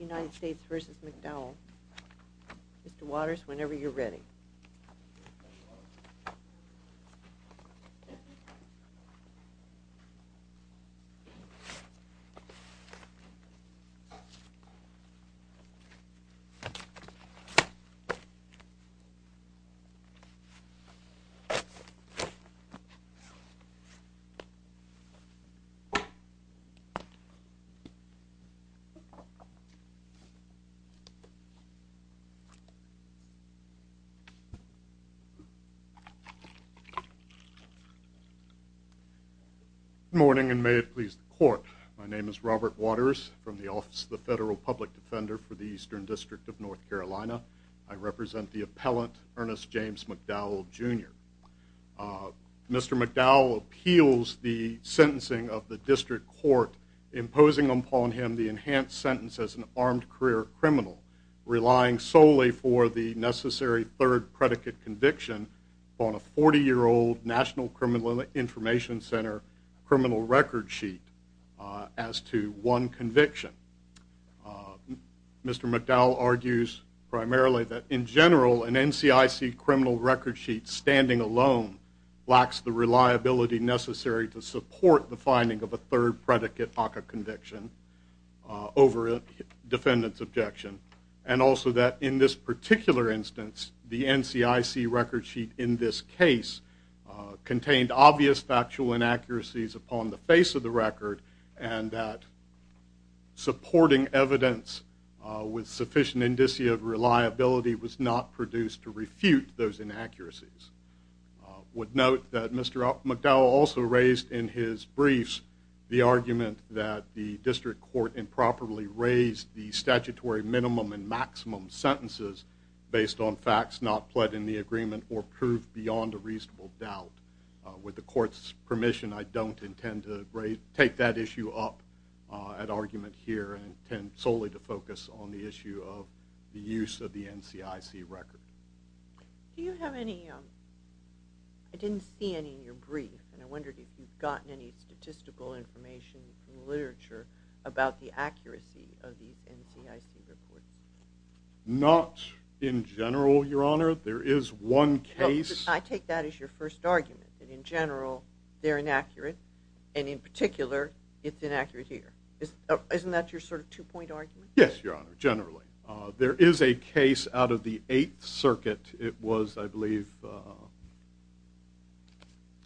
United States v. McDowell. Mr. Waters, whenever you're ready. Good morning, and may it please the court. My name is Robert Waters from the Office of the Federal Public Defender for the Eastern District of North Carolina. I represent the appellant, Ernest James McDowell, Jr. Mr. McDowell appeals the sentencing of the district court imposing upon him the enhanced sentence as an armed career criminal, relying solely for the necessary third predicate conviction on a 40-year-old National Criminal Information Center criminal record sheet as to one conviction. Mr. McDowell argues primarily that in general an NCIC criminal record sheet standing alone lacks the reliability necessary to support the finding of a third predicate ACCA conviction over a defendant's objection, and also that in this particular instance the NCIC record sheet in this case contained obvious factual inaccuracies upon the face of the record and that supporting evidence with sufficient indicia of reliability was not produced to refute those inaccuracies. I would note that Mr. McDowell also raised in his briefs the argument that the district court improperly raised the statutory minimum and maximum sentences based on facts not pled in the agreement or proved beyond a reasonable doubt. With the court's permission, I don't intend to take that issue up at argument here and intend solely to focus on the issue of the use of the NCIC record. I didn't see any in your brief, and I wondered if you've gotten any statistical information and literature about the accuracy of the NCIC record. Not in general, Your Honor. There is one case. I take that as your first argument, that in general they're inaccurate, and in particular it's inaccurate here. Isn't that your sort of two-point argument? Yes, Your Honor, generally. There is a case out of the Eighth Circuit. It was, I believe,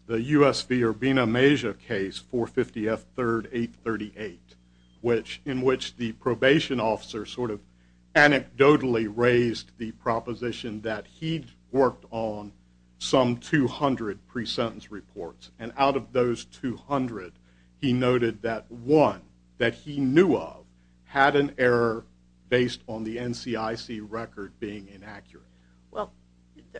the U.S. v. Urbina Meja case, 450 F. 3rd, 838, in which the probation officer sort of anecdotally raised the proposition that he'd worked on some 200 pre-sentence reports, and out of those 200, he noted that one that he knew of had an error based on the NCIC record being inaccurate. Well,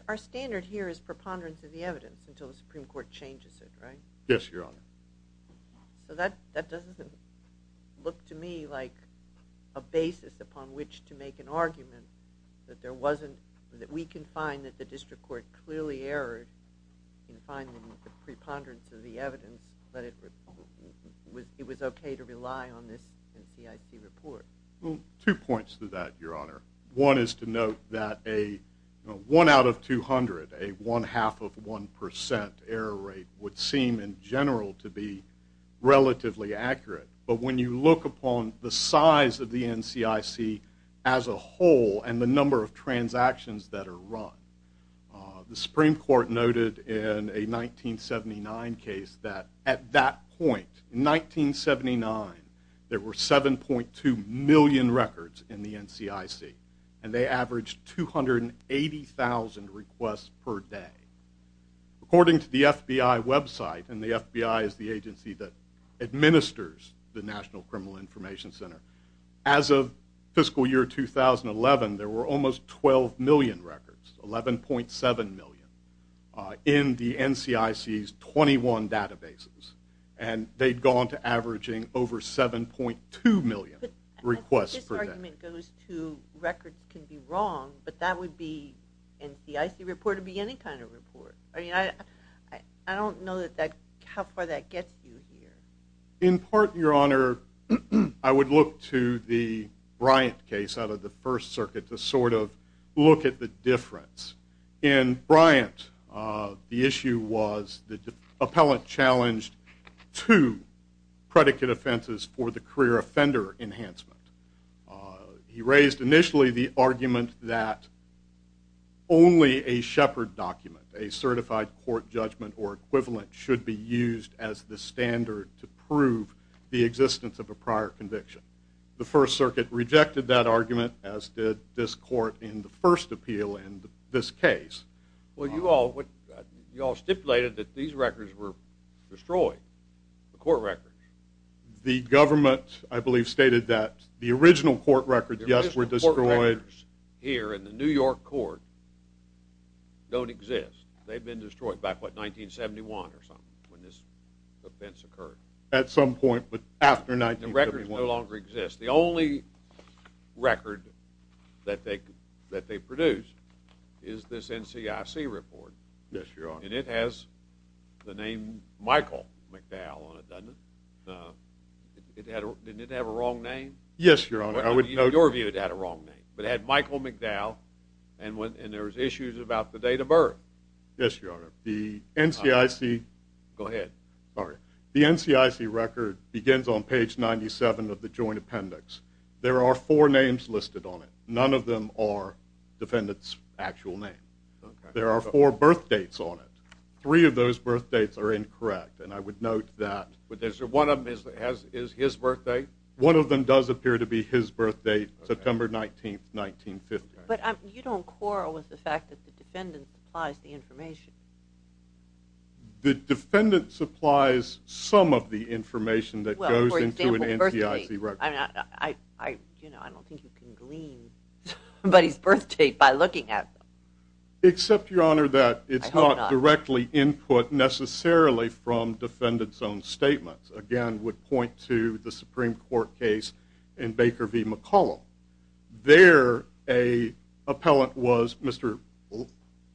our standard here is preponderance of the evidence until the Supreme Court changes it, right? Yes, Your Honor. So that doesn't look to me like a basis upon which to make an argument that there wasn't – that we can find that the district court clearly errored in finding the preponderance of the evidence that it was okay to rely on this NCIC report. Well, two points to that, Your Honor. One is to note that a one out of 200, a one-half of one percent error rate would seem in general to be relatively accurate, but when you look upon the size of the NCIC as a whole and the number of transactions that are run, the Supreme Court noted in a 1979 case that at that point, in 1979, there were 7.2 million records in the NCIC, and they averaged 280,000 requests per day. According to the FBI website, and the FBI is the agency that administers the National Criminal Information Center, as of fiscal year 2011, there were almost 12 million records, 11.7 million, in the NCIC's 21 databases, and they'd gone to averaging over 7.2 million requests per day. But I think this argument goes to records can be wrong, but that would be – NCIC report would be any kind of report. I mean, I don't know that that – how far that gets you here. In part, Your Honor, I would look to the Bryant case out of the First Circuit to sort of look at the difference. In Bryant, the issue was the appellant challenged two predicate offenses for the career offender enhancement. He raised initially the argument that only a Shepard document, a certified court judgment or equivalent, should be used as the standard to prove the existence of a prior conviction. The First Circuit rejected that argument, as did this court in the first appeal in this case. Well, you all stipulated that these records were destroyed, the court records. The government, I believe, stated that the original court records, yes, were destroyed. Here in the New York court don't exist. They've been destroyed back, what, 1971 or something, when this offense occurred. At some point, but after 1971. The records no longer exist. The only record that they produced is this NCIC report. Yes, Your Honor. And it has the name Michael McDowell on it, doesn't it? No. Didn't it have a wrong name? Yes, Your Honor. Your view, it had a wrong name. It had Michael McDowell, and there was issues about the date of birth. Yes, Your Honor. The NCIC record begins on page 97 of the joint appendix. There are four names listed on it. None of them are defendant's actual name. There are four birthdates on it. Three of those birthdates are incorrect, and I would note that. But one of them is his birthdate? One of them does appear to be his birthdate, September 19th, 1950. But you don't quarrel with the fact that the defendant supplies the information? The defendant supplies some of the information that goes into an NCIC record. I don't think you can glean somebody's birthdate by looking at them. Except, Your Honor, that it's not directly input necessarily from defendant's own statements. Again, would point to the Supreme Court case in Baker v. McCollum. There, an appellant was, Mr.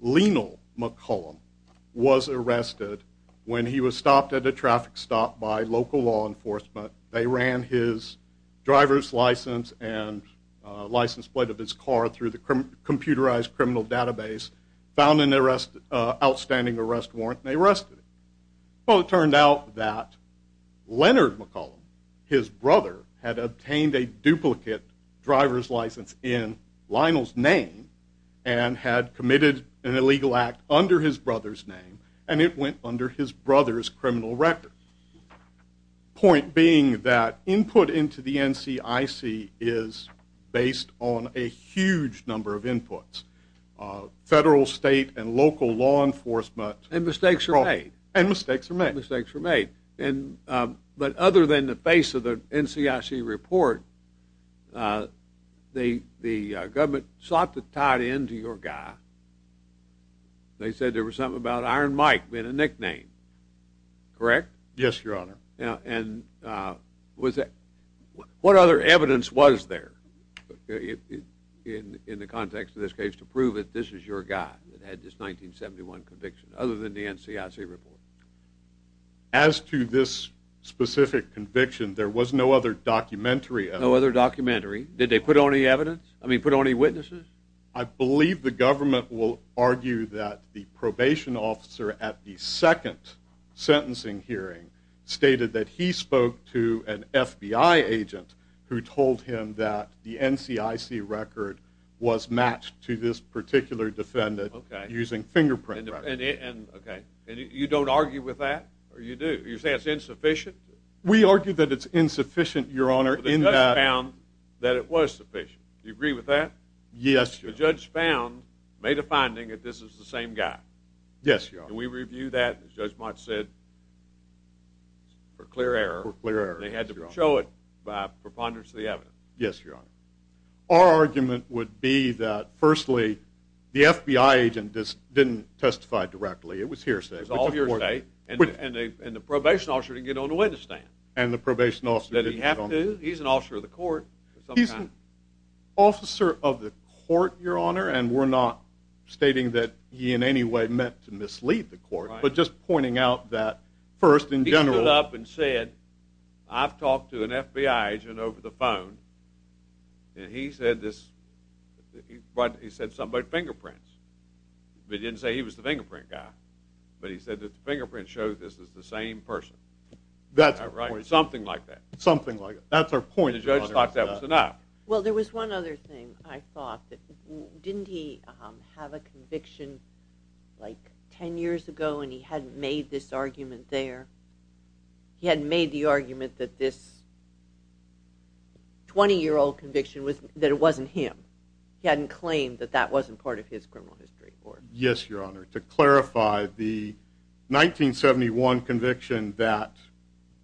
Lenel McCollum, was arrested when he was stopped at a traffic stop by local law enforcement. They ran his driver's license and license plate of his car through the computerized criminal database, found an outstanding arrest warrant, and they arrested him. Well, it turned out that Leonard McCollum, his brother, had obtained a duplicate driver's license in Lenel's name and had committed an illegal act under his brother's name, and it went under his brother's criminal record. Point being that input into the NCIC is based on a huge number of inputs. Federal, state, and local law enforcement. And mistakes were made. And mistakes were made. Mistakes were made. But other than the base of the NCIC report, the government sought to tie it in to your guy. They said there was something about Iron Mike being a nickname. Correct? Yes, Your Honor. And what other evidence was there in the context of this case to prove that this is your guy that had this 1971 conviction other than the NCIC report? As to this specific conviction, there was no other documentary evidence. No other documentary? Did they put any evidence? I mean, put any witnesses? I believe the government will argue that the probation officer at the second sentencing hearing stated that he spoke to an FBI agent who told him that the NCIC record was matched to this particular defendant using fingerprint records. Okay. And you don't argue with that, or you do? You say it's insufficient? We argue that it's insufficient, Your Honor. But the judge found that it was sufficient. Do you agree with that? Yes, Your Honor. The judge found, made a finding, that this is the same guy. Yes, Your Honor. And we review that, as Judge Mott said, for clear error. For clear error, yes, Your Honor. And they had to show it by preponderance of the evidence. Yes, Your Honor. Our argument would be that, firstly, the FBI agent didn't testify directly. It was hearsay. It was all hearsay, and the probation officer didn't get on the witness stand. And the probation officer didn't get on the witness stand. He's an officer of the court of some kind. He's an officer of the court, Your Honor, and we're not stating that he in any way meant to mislead the court. Right. But just pointing out that, first, in general. He stood up and said, I've talked to an FBI agent over the phone, and he said this, he said something about fingerprints. But he didn't say he was the fingerprint guy. But he said that the fingerprint shows this is the same person. That's our point. Something like that. Something like that. That's our point, Your Honor. And the judge thought that was enough. Well, there was one other thing I thought. Didn't he have a conviction like ten years ago, and he hadn't made this argument there? He hadn't made the argument that this 20-year-old conviction, that it wasn't him. He hadn't claimed that that wasn't part of his criminal history. Yes, Your Honor. To clarify, the 1971 conviction that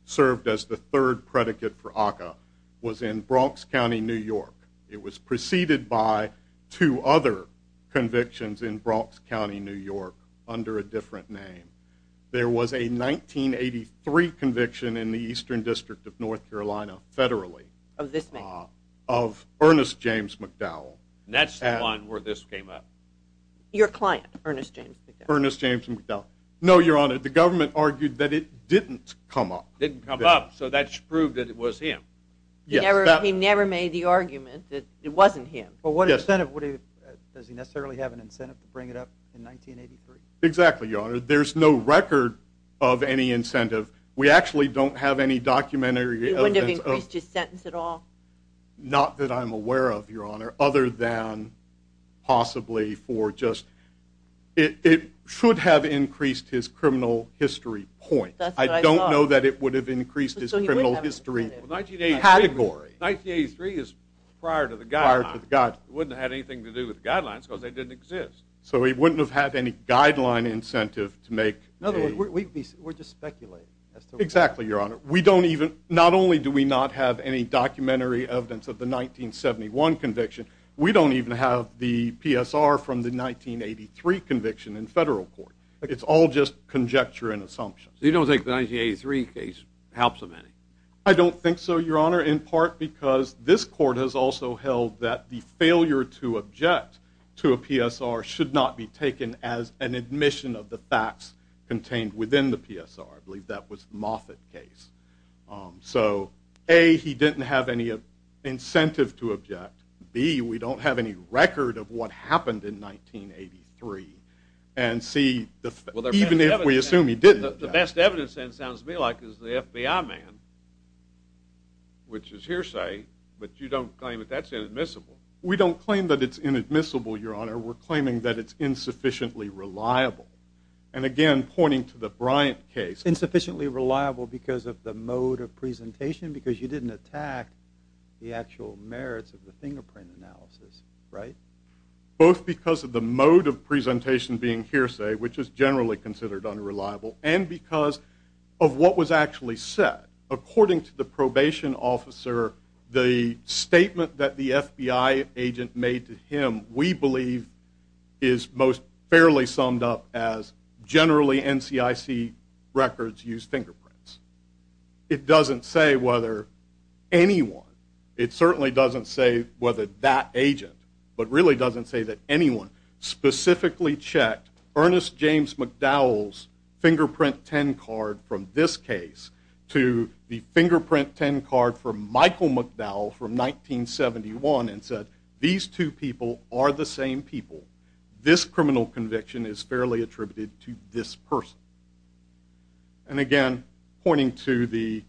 served as the third predicate for ACCA was in Bronx County, New York. It was preceded by two other convictions in Bronx County, New York, under a different name. There was a 1983 conviction in the Eastern District of North Carolina, federally. Of this man. Of Ernest James McDowell. And that's the one where this came up. Your client, Ernest James McDowell. Ernest James McDowell. No, Your Honor. The government argued that it didn't come up. Didn't come up. So that's proved that it was him. He never made the argument that it wasn't him. Well, what incentive? Does he necessarily have an incentive to bring it up in 1983? Exactly, Your Honor. There's no record of any incentive. We actually don't have any documentary evidence. He wouldn't have increased his sentence at all? Not that I'm aware of, Your Honor. Other than possibly for just – it should have increased his criminal history point. That's what I thought. I don't know that it would have increased his criminal history category. 1983 is prior to the guidelines. It wouldn't have had anything to do with the guidelines because they didn't exist. So he wouldn't have had any guideline incentive to make a – We're just speculating. Exactly, Your Honor. We don't even – not only do we not have any documentary evidence of the 1971 conviction, we don't even have the PSR from the 1983 conviction in federal court. It's all just conjecture and assumptions. You don't think the 1983 case helps him any? I don't think so, Your Honor, in part because this court has also held that the failure to object to a PSR should not be taken as an admission of the facts contained within the PSR. I believe that was the Moffitt case. So, A, he didn't have any incentive to object. B, we don't have any record of what happened in 1983. And C, even if we assume he didn't object – The best evidence, then, sounds to me like is the FBI man, which is hearsay, but you don't claim that that's inadmissible. We don't claim that it's inadmissible, Your Honor. We're claiming that it's insufficiently reliable. And, again, pointing to the Bryant case. Insufficiently reliable because of the mode of presentation? Because you didn't attack the actual merits of the fingerprint analysis, right? Both because of the mode of presentation being hearsay, which is generally considered unreliable, and because of what was actually said. According to the probation officer, the statement that the FBI agent made to him, we believe is most fairly summed up as generally NCIC records use fingerprints. It doesn't say whether anyone – it certainly doesn't say whether that agent, but really doesn't say that anyone specifically checked Ernest James McDowell's fingerprint 10 card from this case to the fingerprint 10 card from Michael McDowell from 1971 and said these two people are the same people. This criminal conviction is fairly attributed to this person. And, again, pointing to the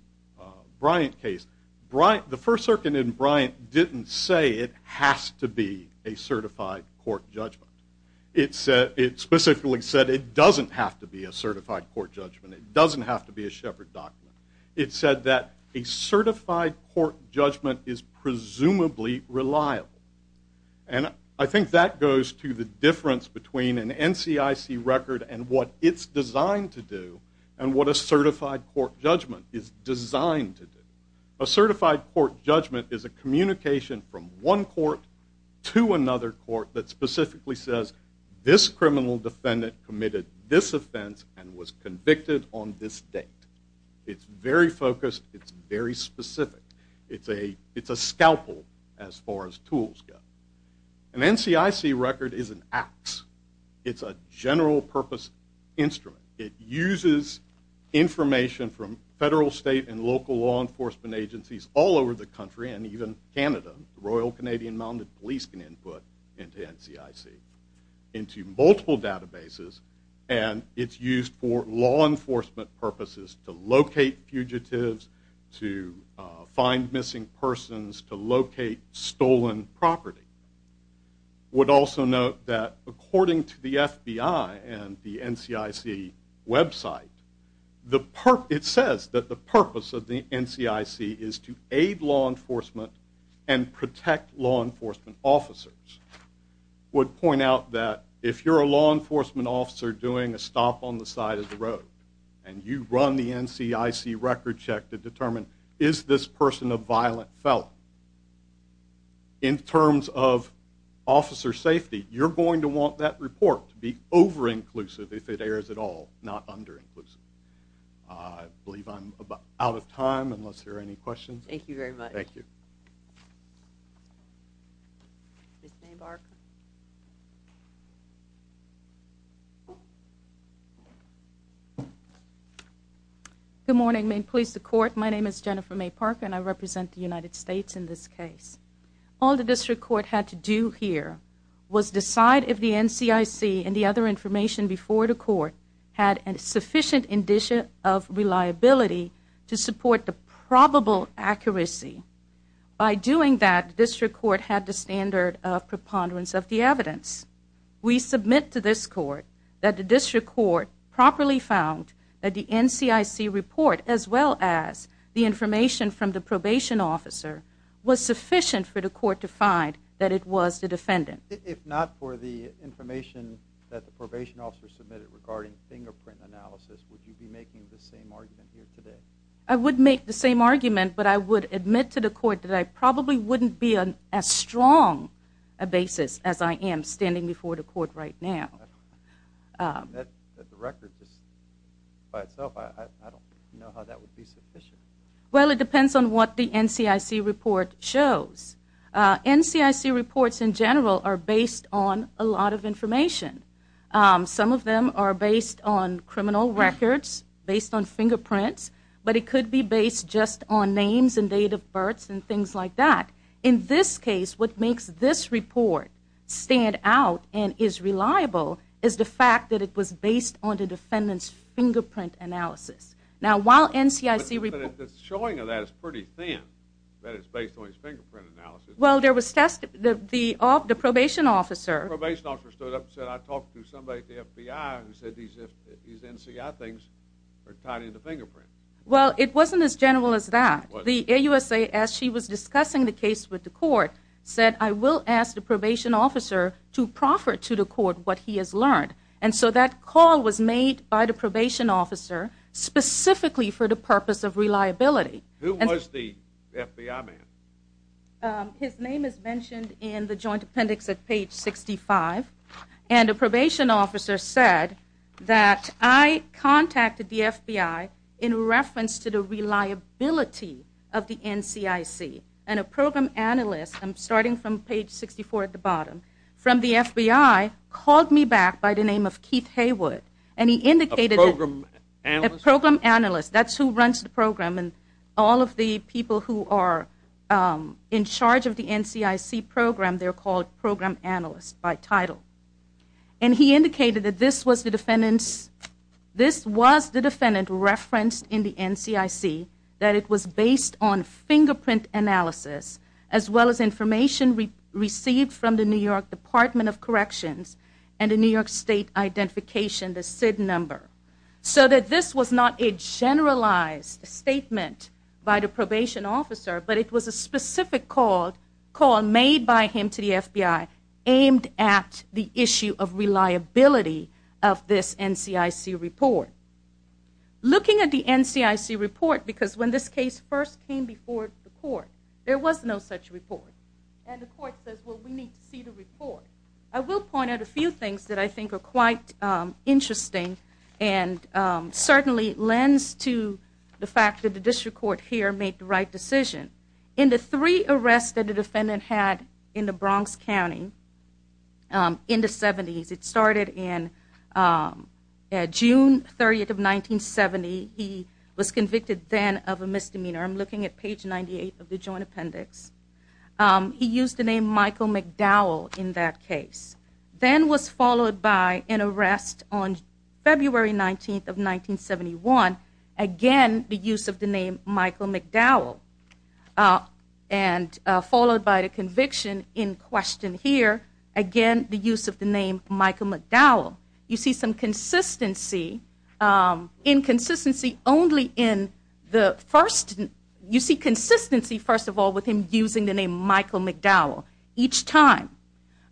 Bryant case, the First Circuit in Bryant didn't say it has to be a certified court judgment. It specifically said it doesn't have to be a certified court judgment. It doesn't have to be a Shepard document. It said that a certified court judgment is presumably reliable. And I think that goes to the difference between an NCIC record and what it's designed to do and what a certified court judgment is designed to do. A certified court judgment is a communication from one court to another court that specifically says this criminal defendant committed this offense and was convicted on this date. It's very focused. It's very specific. It's a scalpel as far as tools go. An NCIC record is an axe. It's a general purpose instrument. It uses information from federal, state, and local law enforcement agencies all over the country and even Canada. The Royal Canadian Mounted Police can input into NCIC into multiple databases, and it's used for law enforcement purposes to locate fugitives, to find missing persons, to locate stolen property. I would also note that according to the FBI and the NCIC website, it says that the purpose of the NCIC is to aid law enforcement and protect law enforcement officers. I would point out that if you're a law enforcement officer doing a stop on the side of the road and you run the NCIC record check to determine is this person a violent felon, in terms of officer safety, you're going to want that report to be over-inclusive if it airs at all, not under-inclusive. I believe I'm out of time unless there are any questions. Thank you very much. Thank you. Thank you. Ms. Maypark. Good morning, Maine Police and the Court. My name is Jennifer Maypark, and I represent the United States in this case. All the district court had to do here was decide if the NCIC and the other information before the court had a sufficient indication of reliability to support the probable accuracy. By doing that, the district court had the standard of preponderance of the evidence. We submit to this court that the district court properly found that the NCIC report as well as the information from the probation officer was sufficient for the court to find that it was the defendant. If not for the information that the probation officer submitted regarding fingerprint analysis, would you be making the same argument here today? I would make the same argument, but I would admit to the court that I probably wouldn't be on as strong a basis as I am standing before the court right now. The record just by itself, I don't know how that would be sufficient. Well, it depends on what the NCIC report shows. NCIC reports in general are based on a lot of information. Some of them are based on criminal records, based on fingerprints, but it could be based just on names and date of birth and things like that. In this case, what makes this report stand out and is reliable is the fact that it was based on the defendant's fingerprint analysis. But the showing of that is pretty thin, that it's based on his fingerprint analysis. The probation officer stood up and said, I talked to somebody at the FBI who said these NCI things are tied into fingerprints. Well, it wasn't as general as that. The AUSA, as she was discussing the case with the court, said, I will ask the probation officer to proffer to the court what he has learned. And so that call was made by the probation officer specifically for the purpose of reliability. Who was the FBI man? His name is mentioned in the joint appendix at page 65. And the probation officer said that I contacted the FBI in reference to the reliability of the NCIC. And a program analyst, starting from page 64 at the bottom, from the FBI called me back by the name of Keith Haywood. A program analyst? A program analyst. That's who runs the program. And all of the people who are in charge of the NCIC program, they're called program analysts by title. And he indicated that this was the defendant referenced in the NCIC, that it was based on fingerprint analysis as well as information received from the New York Department of Corrections and a New York State identification, the SID number. So that this was not a generalized statement by the probation officer, but it was a specific call made by him to the FBI aimed at the issue of reliability of this NCIC report. Looking at the NCIC report, because when this case first came before the court, there was no such report. And the court says, well, we need to see the report. I will point out a few things that I think are quite interesting and certainly lend to the fact that the district court here made the right decision. In the three arrests that the defendant had in the Bronx County in the 70s, it started in June 30th of 1970. He was convicted then of a misdemeanor. I'm looking at page 98 of the Joint Appendix. He used the name Michael McDowell in that case. Then was followed by an arrest on February 19th of 1971. Again, the use of the name Michael McDowell. And followed by the conviction in question here. Again, the use of the name Michael McDowell. You see some inconsistency only in the first. You see consistency, first of all, with him using the name Michael McDowell each time.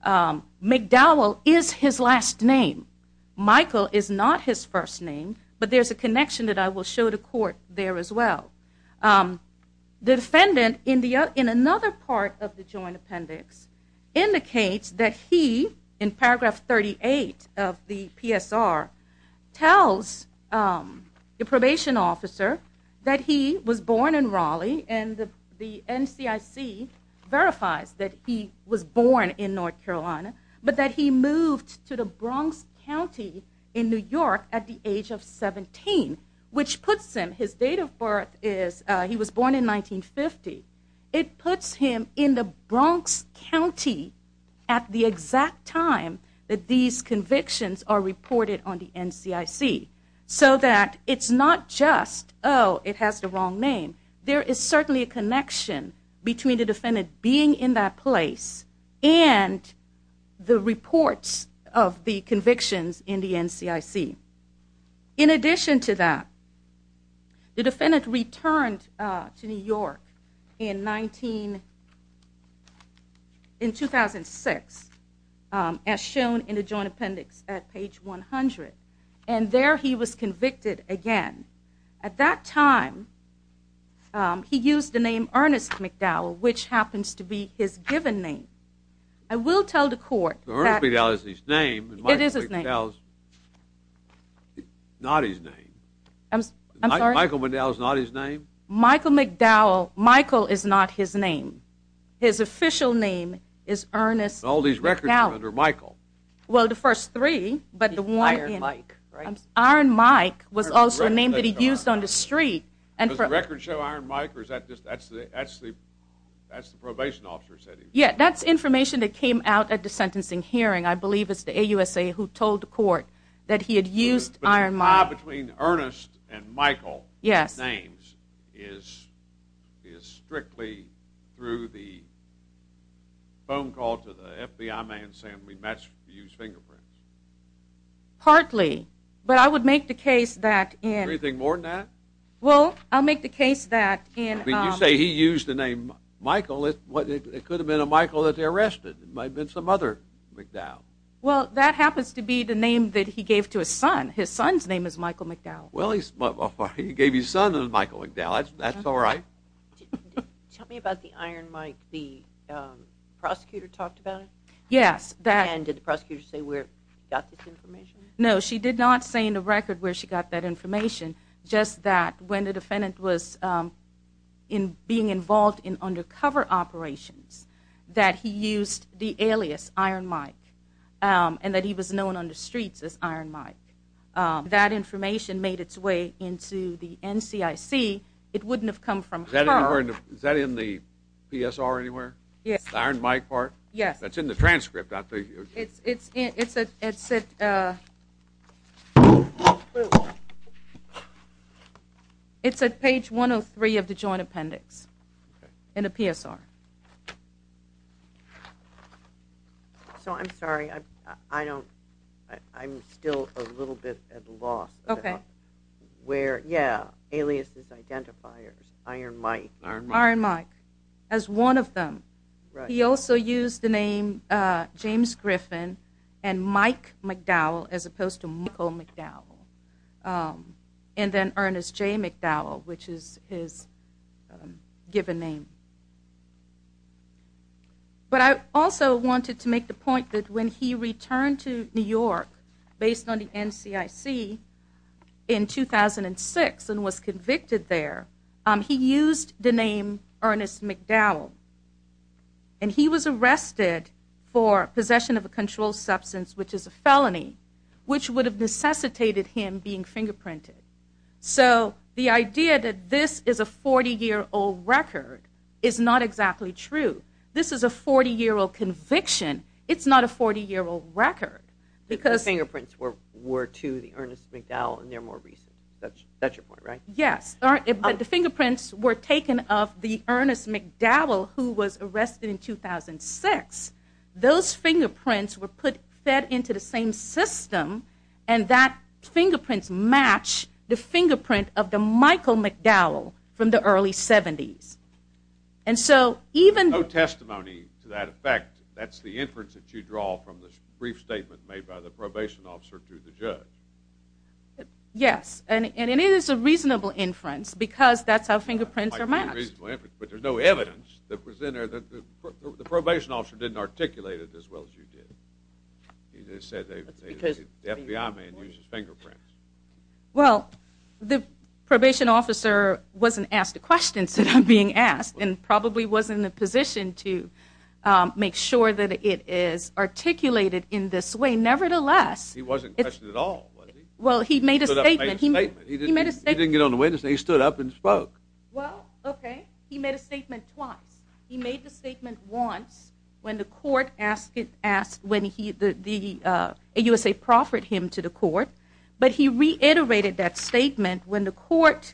McDowell is his last name. Michael is not his first name. But there's a connection that I will show the court there as well. The defendant in another part of the Joint Appendix indicates that he, in paragraph 38 of the PSR, tells the probation officer that he was born in Raleigh and the NCIC verifies that he was born in North Carolina, but that he moved to the Bronx County in New York at the age of 17, which puts him, his date of birth is he was born in 1950. It puts him in the Bronx County at the exact time that these convictions are reported on the NCIC so that it's not just, oh, it has the wrong name. There is certainly a connection between the defendant being in that place and the reports of the convictions in the NCIC. In addition to that, the defendant returned to New York in 2006, as shown in the Joint Appendix at page 100, and there he was convicted again. At that time, he used the name Ernest McDowell, which happens to be his given name. I will tell the court that... Not his name. I'm sorry? Michael McDowell is not his name? Michael McDowell, Michael is not his name. His official name is Ernest McDowell. All these records are under Michael. Well, the first three, but the one in... Iron Mike, right? Iron Mike was also a name that he used on the street. Does the record show Iron Mike, or is that just, that's the probation officer said he was? Yeah, that's information that came out at the sentencing hearing, I believe, it's the AUSA who told the court that he had used Iron Mike. But the tie between Ernest and Michael's names is strictly through the phone call to the FBI man saying we matched the used fingerprints? Partly, but I would make the case that in... Do you think more than that? Well, I'll make the case that in... I mean, you say he used the name Michael, it could have been a Michael that they arrested. It might have been some other McDowell. Well, that happens to be the name that he gave to his son. His son's name is Michael McDowell. Well, he gave his son a Michael McDowell. That's all right. Tell me about the Iron Mike. The prosecutor talked about it? Yes. And did the prosecutor say where he got this information? No, she did not say in the record where she got that information, just that when the defendant was being involved in undercover operations that he used the alias Iron Mike and that he was known on the streets as Iron Mike. That information made its way into the NCIC. It wouldn't have come from her. Is that in the PSR anywhere? Yes. The Iron Mike part? Yes. That's in the transcript, I think. It's at page 103 of the joint appendix in the PSR. So I'm sorry, I'm still a little bit at a loss. Okay. Where, yeah, aliases, identifiers, Iron Mike. Iron Mike. As one of them. Right. He also used the name James Griffin and Mike McDowell as opposed to Michael McDowell, and then Ernest J. McDowell, which is his given name. But I also wanted to make the point that when he returned to New York based on the NCIC in 2006 and was convicted there, he used the name Ernest McDowell, and he was arrested for possession of a controlled substance, which is a felony, which would have necessitated him being fingerprinted. So the idea that this is a 40-year-old record is not exactly true. This is a 40-year-old conviction. It's not a 40-year-old record. The fingerprints were to the Ernest McDowell, and they're more recent. That's your point, right? Yes. But the fingerprints were taken of the Ernest McDowell, who was arrested in 2006. Those fingerprints were fed into the same system, and that fingerprints match the fingerprint of the Michael McDowell from the early 70s. And so even though testimony to that effect, that's the inference that you draw from this brief statement made by the probation officer to the judge. Yes, and it is a reasonable inference because that's how fingerprints are matched. But there's no evidence that the probation officer didn't articulate it as well as you did. He just said the FBI man uses fingerprints. Well, the probation officer wasn't asked a question instead of being asked and probably wasn't in a position to make sure that it is articulated in this way. Nevertheless, he made a statement. He didn't get on the witness, and he stood up and spoke. Well, okay. He made a statement twice. He made the statement once when the USA proffered him to the court, but he reiterated that statement when the court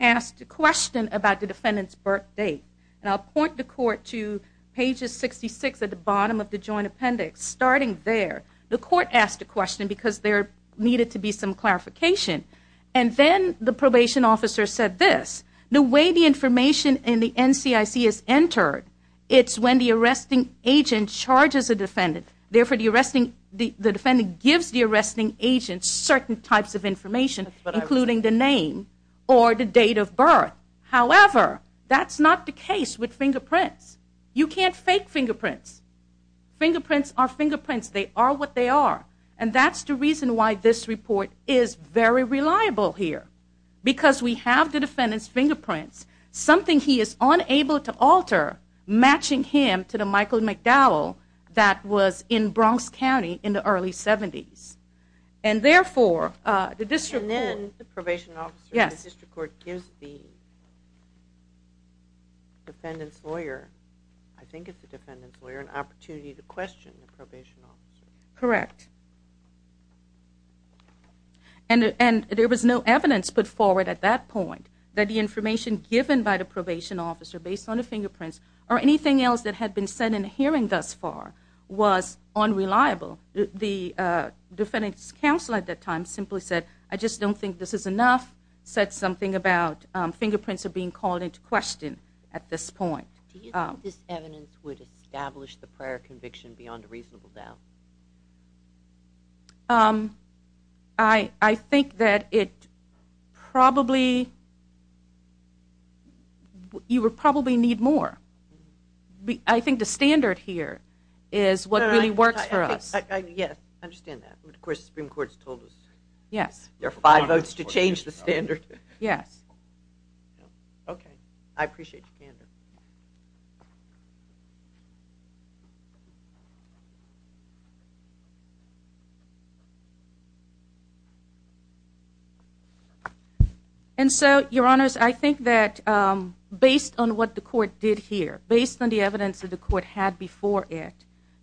asked a question about the defendant's birth date. And I'll point the court to pages 66 at the bottom of the joint appendix. Starting there, the court asked a question because there needed to be some clarification. And then the probation officer said this. The way the information in the NCIC is entered, it's when the arresting agent charges a defendant. Therefore, the defendant gives the arresting agent certain types of information, including the name or the date of birth. However, that's not the case with fingerprints. You can't fake fingerprints. Fingerprints are fingerprints. They are what they are. And that's the reason why this report is very reliable here, because we have the defendant's fingerprints, something he is unable to alter matching him to the Michael McDowell that was in Bronx County in the early 70s. And then the probation officer in the district court gives the defendant's lawyer, I think it's the defendant's lawyer, an opportunity to question the probation officer. Correct. And there was no evidence put forward at that point that the information given by the probation officer based on the fingerprints or anything else that had been said in the hearing thus far was unreliable. The defendant's counsel at that time simply said, I just don't think this is enough, said something about fingerprints are being called into question at this point. Do you think this evidence would establish the prior conviction beyond a reasonable doubt? I think that it probably, you would probably need more. I think the standard here is what really works for us. Yes, I understand that. Of course, the Supreme Court has told us there are five votes to change the standard. Yes. Okay, I appreciate your candor. Thank you. And so, Your Honors, I think that based on what the court did here, based on the evidence that the court had before it,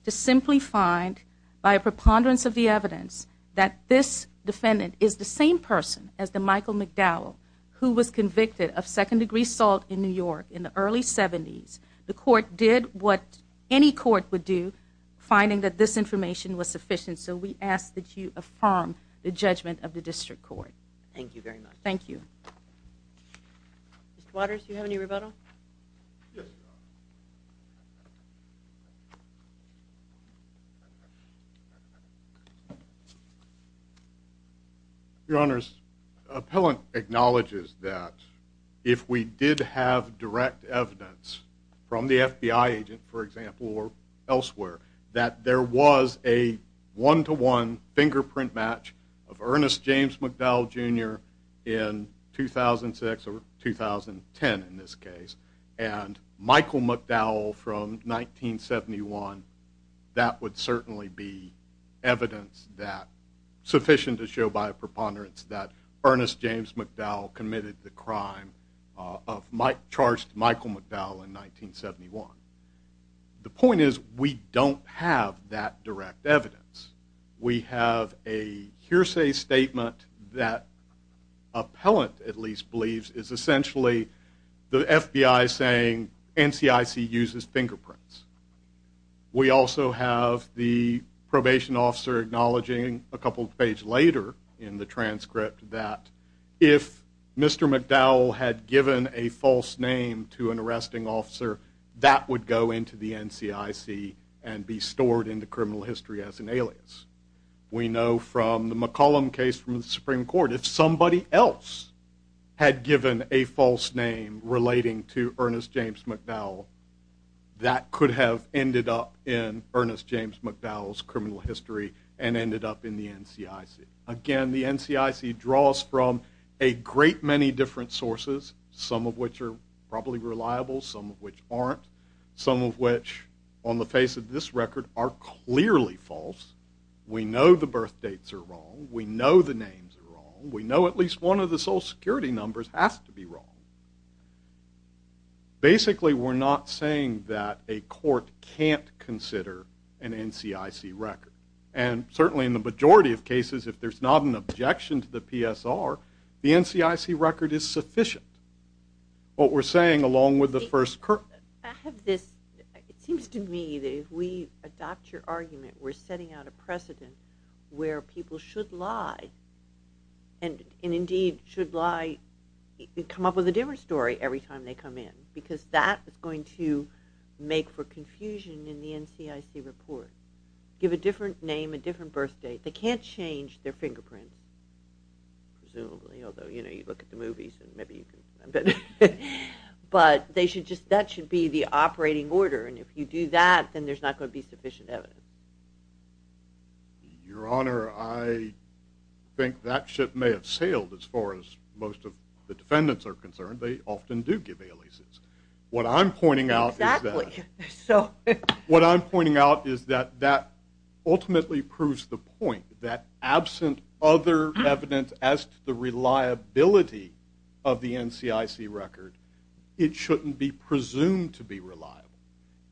to simply find by a preponderance of the evidence that this defendant is the same person as the Michael McDowell who was convicted of second-degree assault in New York in the early 70s, the court did what any court would do, finding that this information was sufficient. So we ask that you affirm the judgment of the district court. Thank you very much. Thank you. Mr. Waters, do you have any rebuttal? Yes, Your Honor. Your Honors, Appellant acknowledges that if we did have direct evidence from the FBI agent, for example, or elsewhere, that there was a one-to-one fingerprint match of Ernest James McDowell, Jr. in 2006 or 2010 in this case, and Michael McDowell from 1971, that would certainly be evidence that sufficient to show by a preponderance that Ernest James McDowell committed the crime, charged Michael McDowell in 1971. The point is we don't have that direct evidence. We have a hearsay statement that Appellant, at least, believes is essentially the FBI saying NCIC uses fingerprints. We also have the probation officer acknowledging a couple pages later in the transcript that if Mr. McDowell had given a false name to an arresting officer, that would go into the NCIC and be stored in the criminal history as an alias. We know from the McCollum case from the Supreme Court, if somebody else had given a false name relating to Ernest James McDowell, that could have ended up in Ernest James McDowell's criminal history and ended up in the NCIC. Again, the NCIC draws from a great many different sources, some of which are probably reliable, some of which aren't, some of which, on the face of this record, are clearly false. We know the birthdates are wrong. We know the names are wrong. We know at least one of the Social Security numbers has to be wrong. Basically, we're not saying that a court can't consider an NCIC record. And certainly in the majority of cases, if there's not an objection to the PSR, the NCIC record is sufficient. What we're saying, along with the first court. I have this. It seems to me that if we adopt your argument, we're setting out a precedent where people should lie and, indeed, should lie, come up with a different story every time they come in because that is going to make for confusion in the NCIC report. Give a different name, a different birthdate. They can't change their fingerprints, presumably, although, you know, you look at the movies and maybe you can. But that should be the operating order, and if you do that, then there's not going to be sufficient evidence. Your Honor, I think that ship may have sailed as far as most of the defendants are concerned. They often do give aliases. What I'm pointing out is that ultimately proves the point that, absent other evidence as to the reliability of the NCIC record, it shouldn't be presumed to be reliable.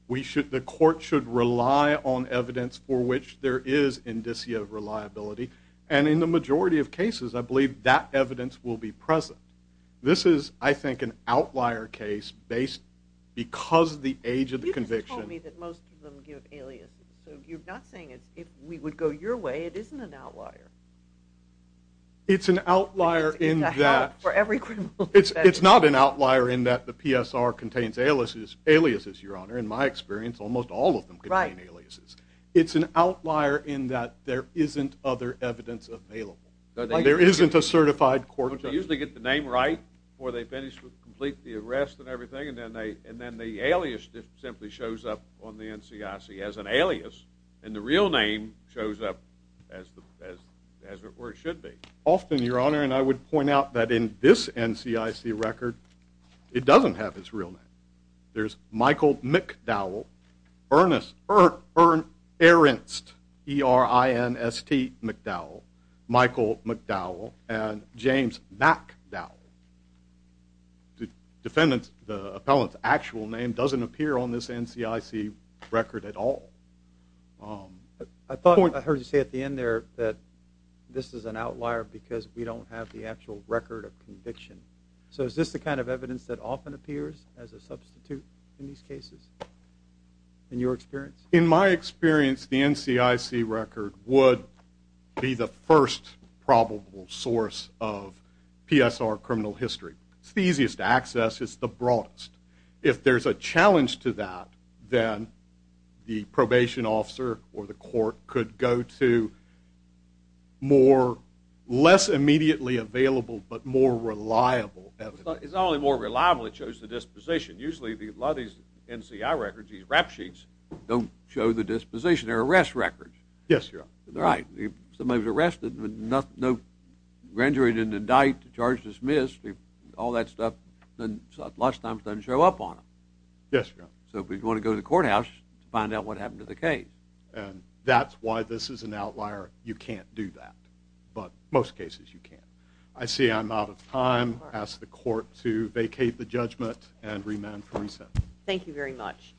The court should rely on evidence for which there is indicia of reliability, and in the majority of cases, I believe that evidence will be present. This is, I think, an outlier case because of the age of the conviction. You just told me that most of them give aliases. So you're not saying if we would go your way, it isn't an outlier? It's an outlier in that the PSR contains aliases, Your Honor. In my experience, almost all of them contain aliases. It's an outlier in that there isn't other evidence available. There isn't a certified court judge. They usually get the name right before they finish, complete the arrest and everything, and then the alias simply shows up on the NCIC as an alias, and the real name shows up as it should be. Often, Your Honor, and I would point out that in this NCIC record, it doesn't have his real name. There's Michael McDowell, Ernst McDowell, Michael McDowell, and James McDowell. The defendant's, the appellant's actual name doesn't appear on this NCIC record at all. I thought I heard you say at the end there that this is an outlier because we don't have the actual record of conviction. So is this the kind of evidence that often appears as a substitute in these cases in your experience? In my experience, the NCIC record would be the first probable source of PSR criminal history. It's the easiest to access. It's the broadest. If there's a challenge to that, then the probation officer or the court could go to more, less immediately available but more reliable evidence. It's not only more reliable, it shows the disposition. Usually, a lot of these NCI records, these rap sheets, don't show the disposition. They're arrest records. Yes, Your Honor. Right. Somebody was arrested but no grand jury didn't indict, charge dismissed, all that stuff. Then lots of times it doesn't show up on them. Yes, Your Honor. So if we want to go to the courthouse to find out what happened to the case. And that's why this is an outlier. You can't do that, but most cases you can. I see I'm out of time. I ask the court to vacate the judgment and remand for reset. Thank you very much.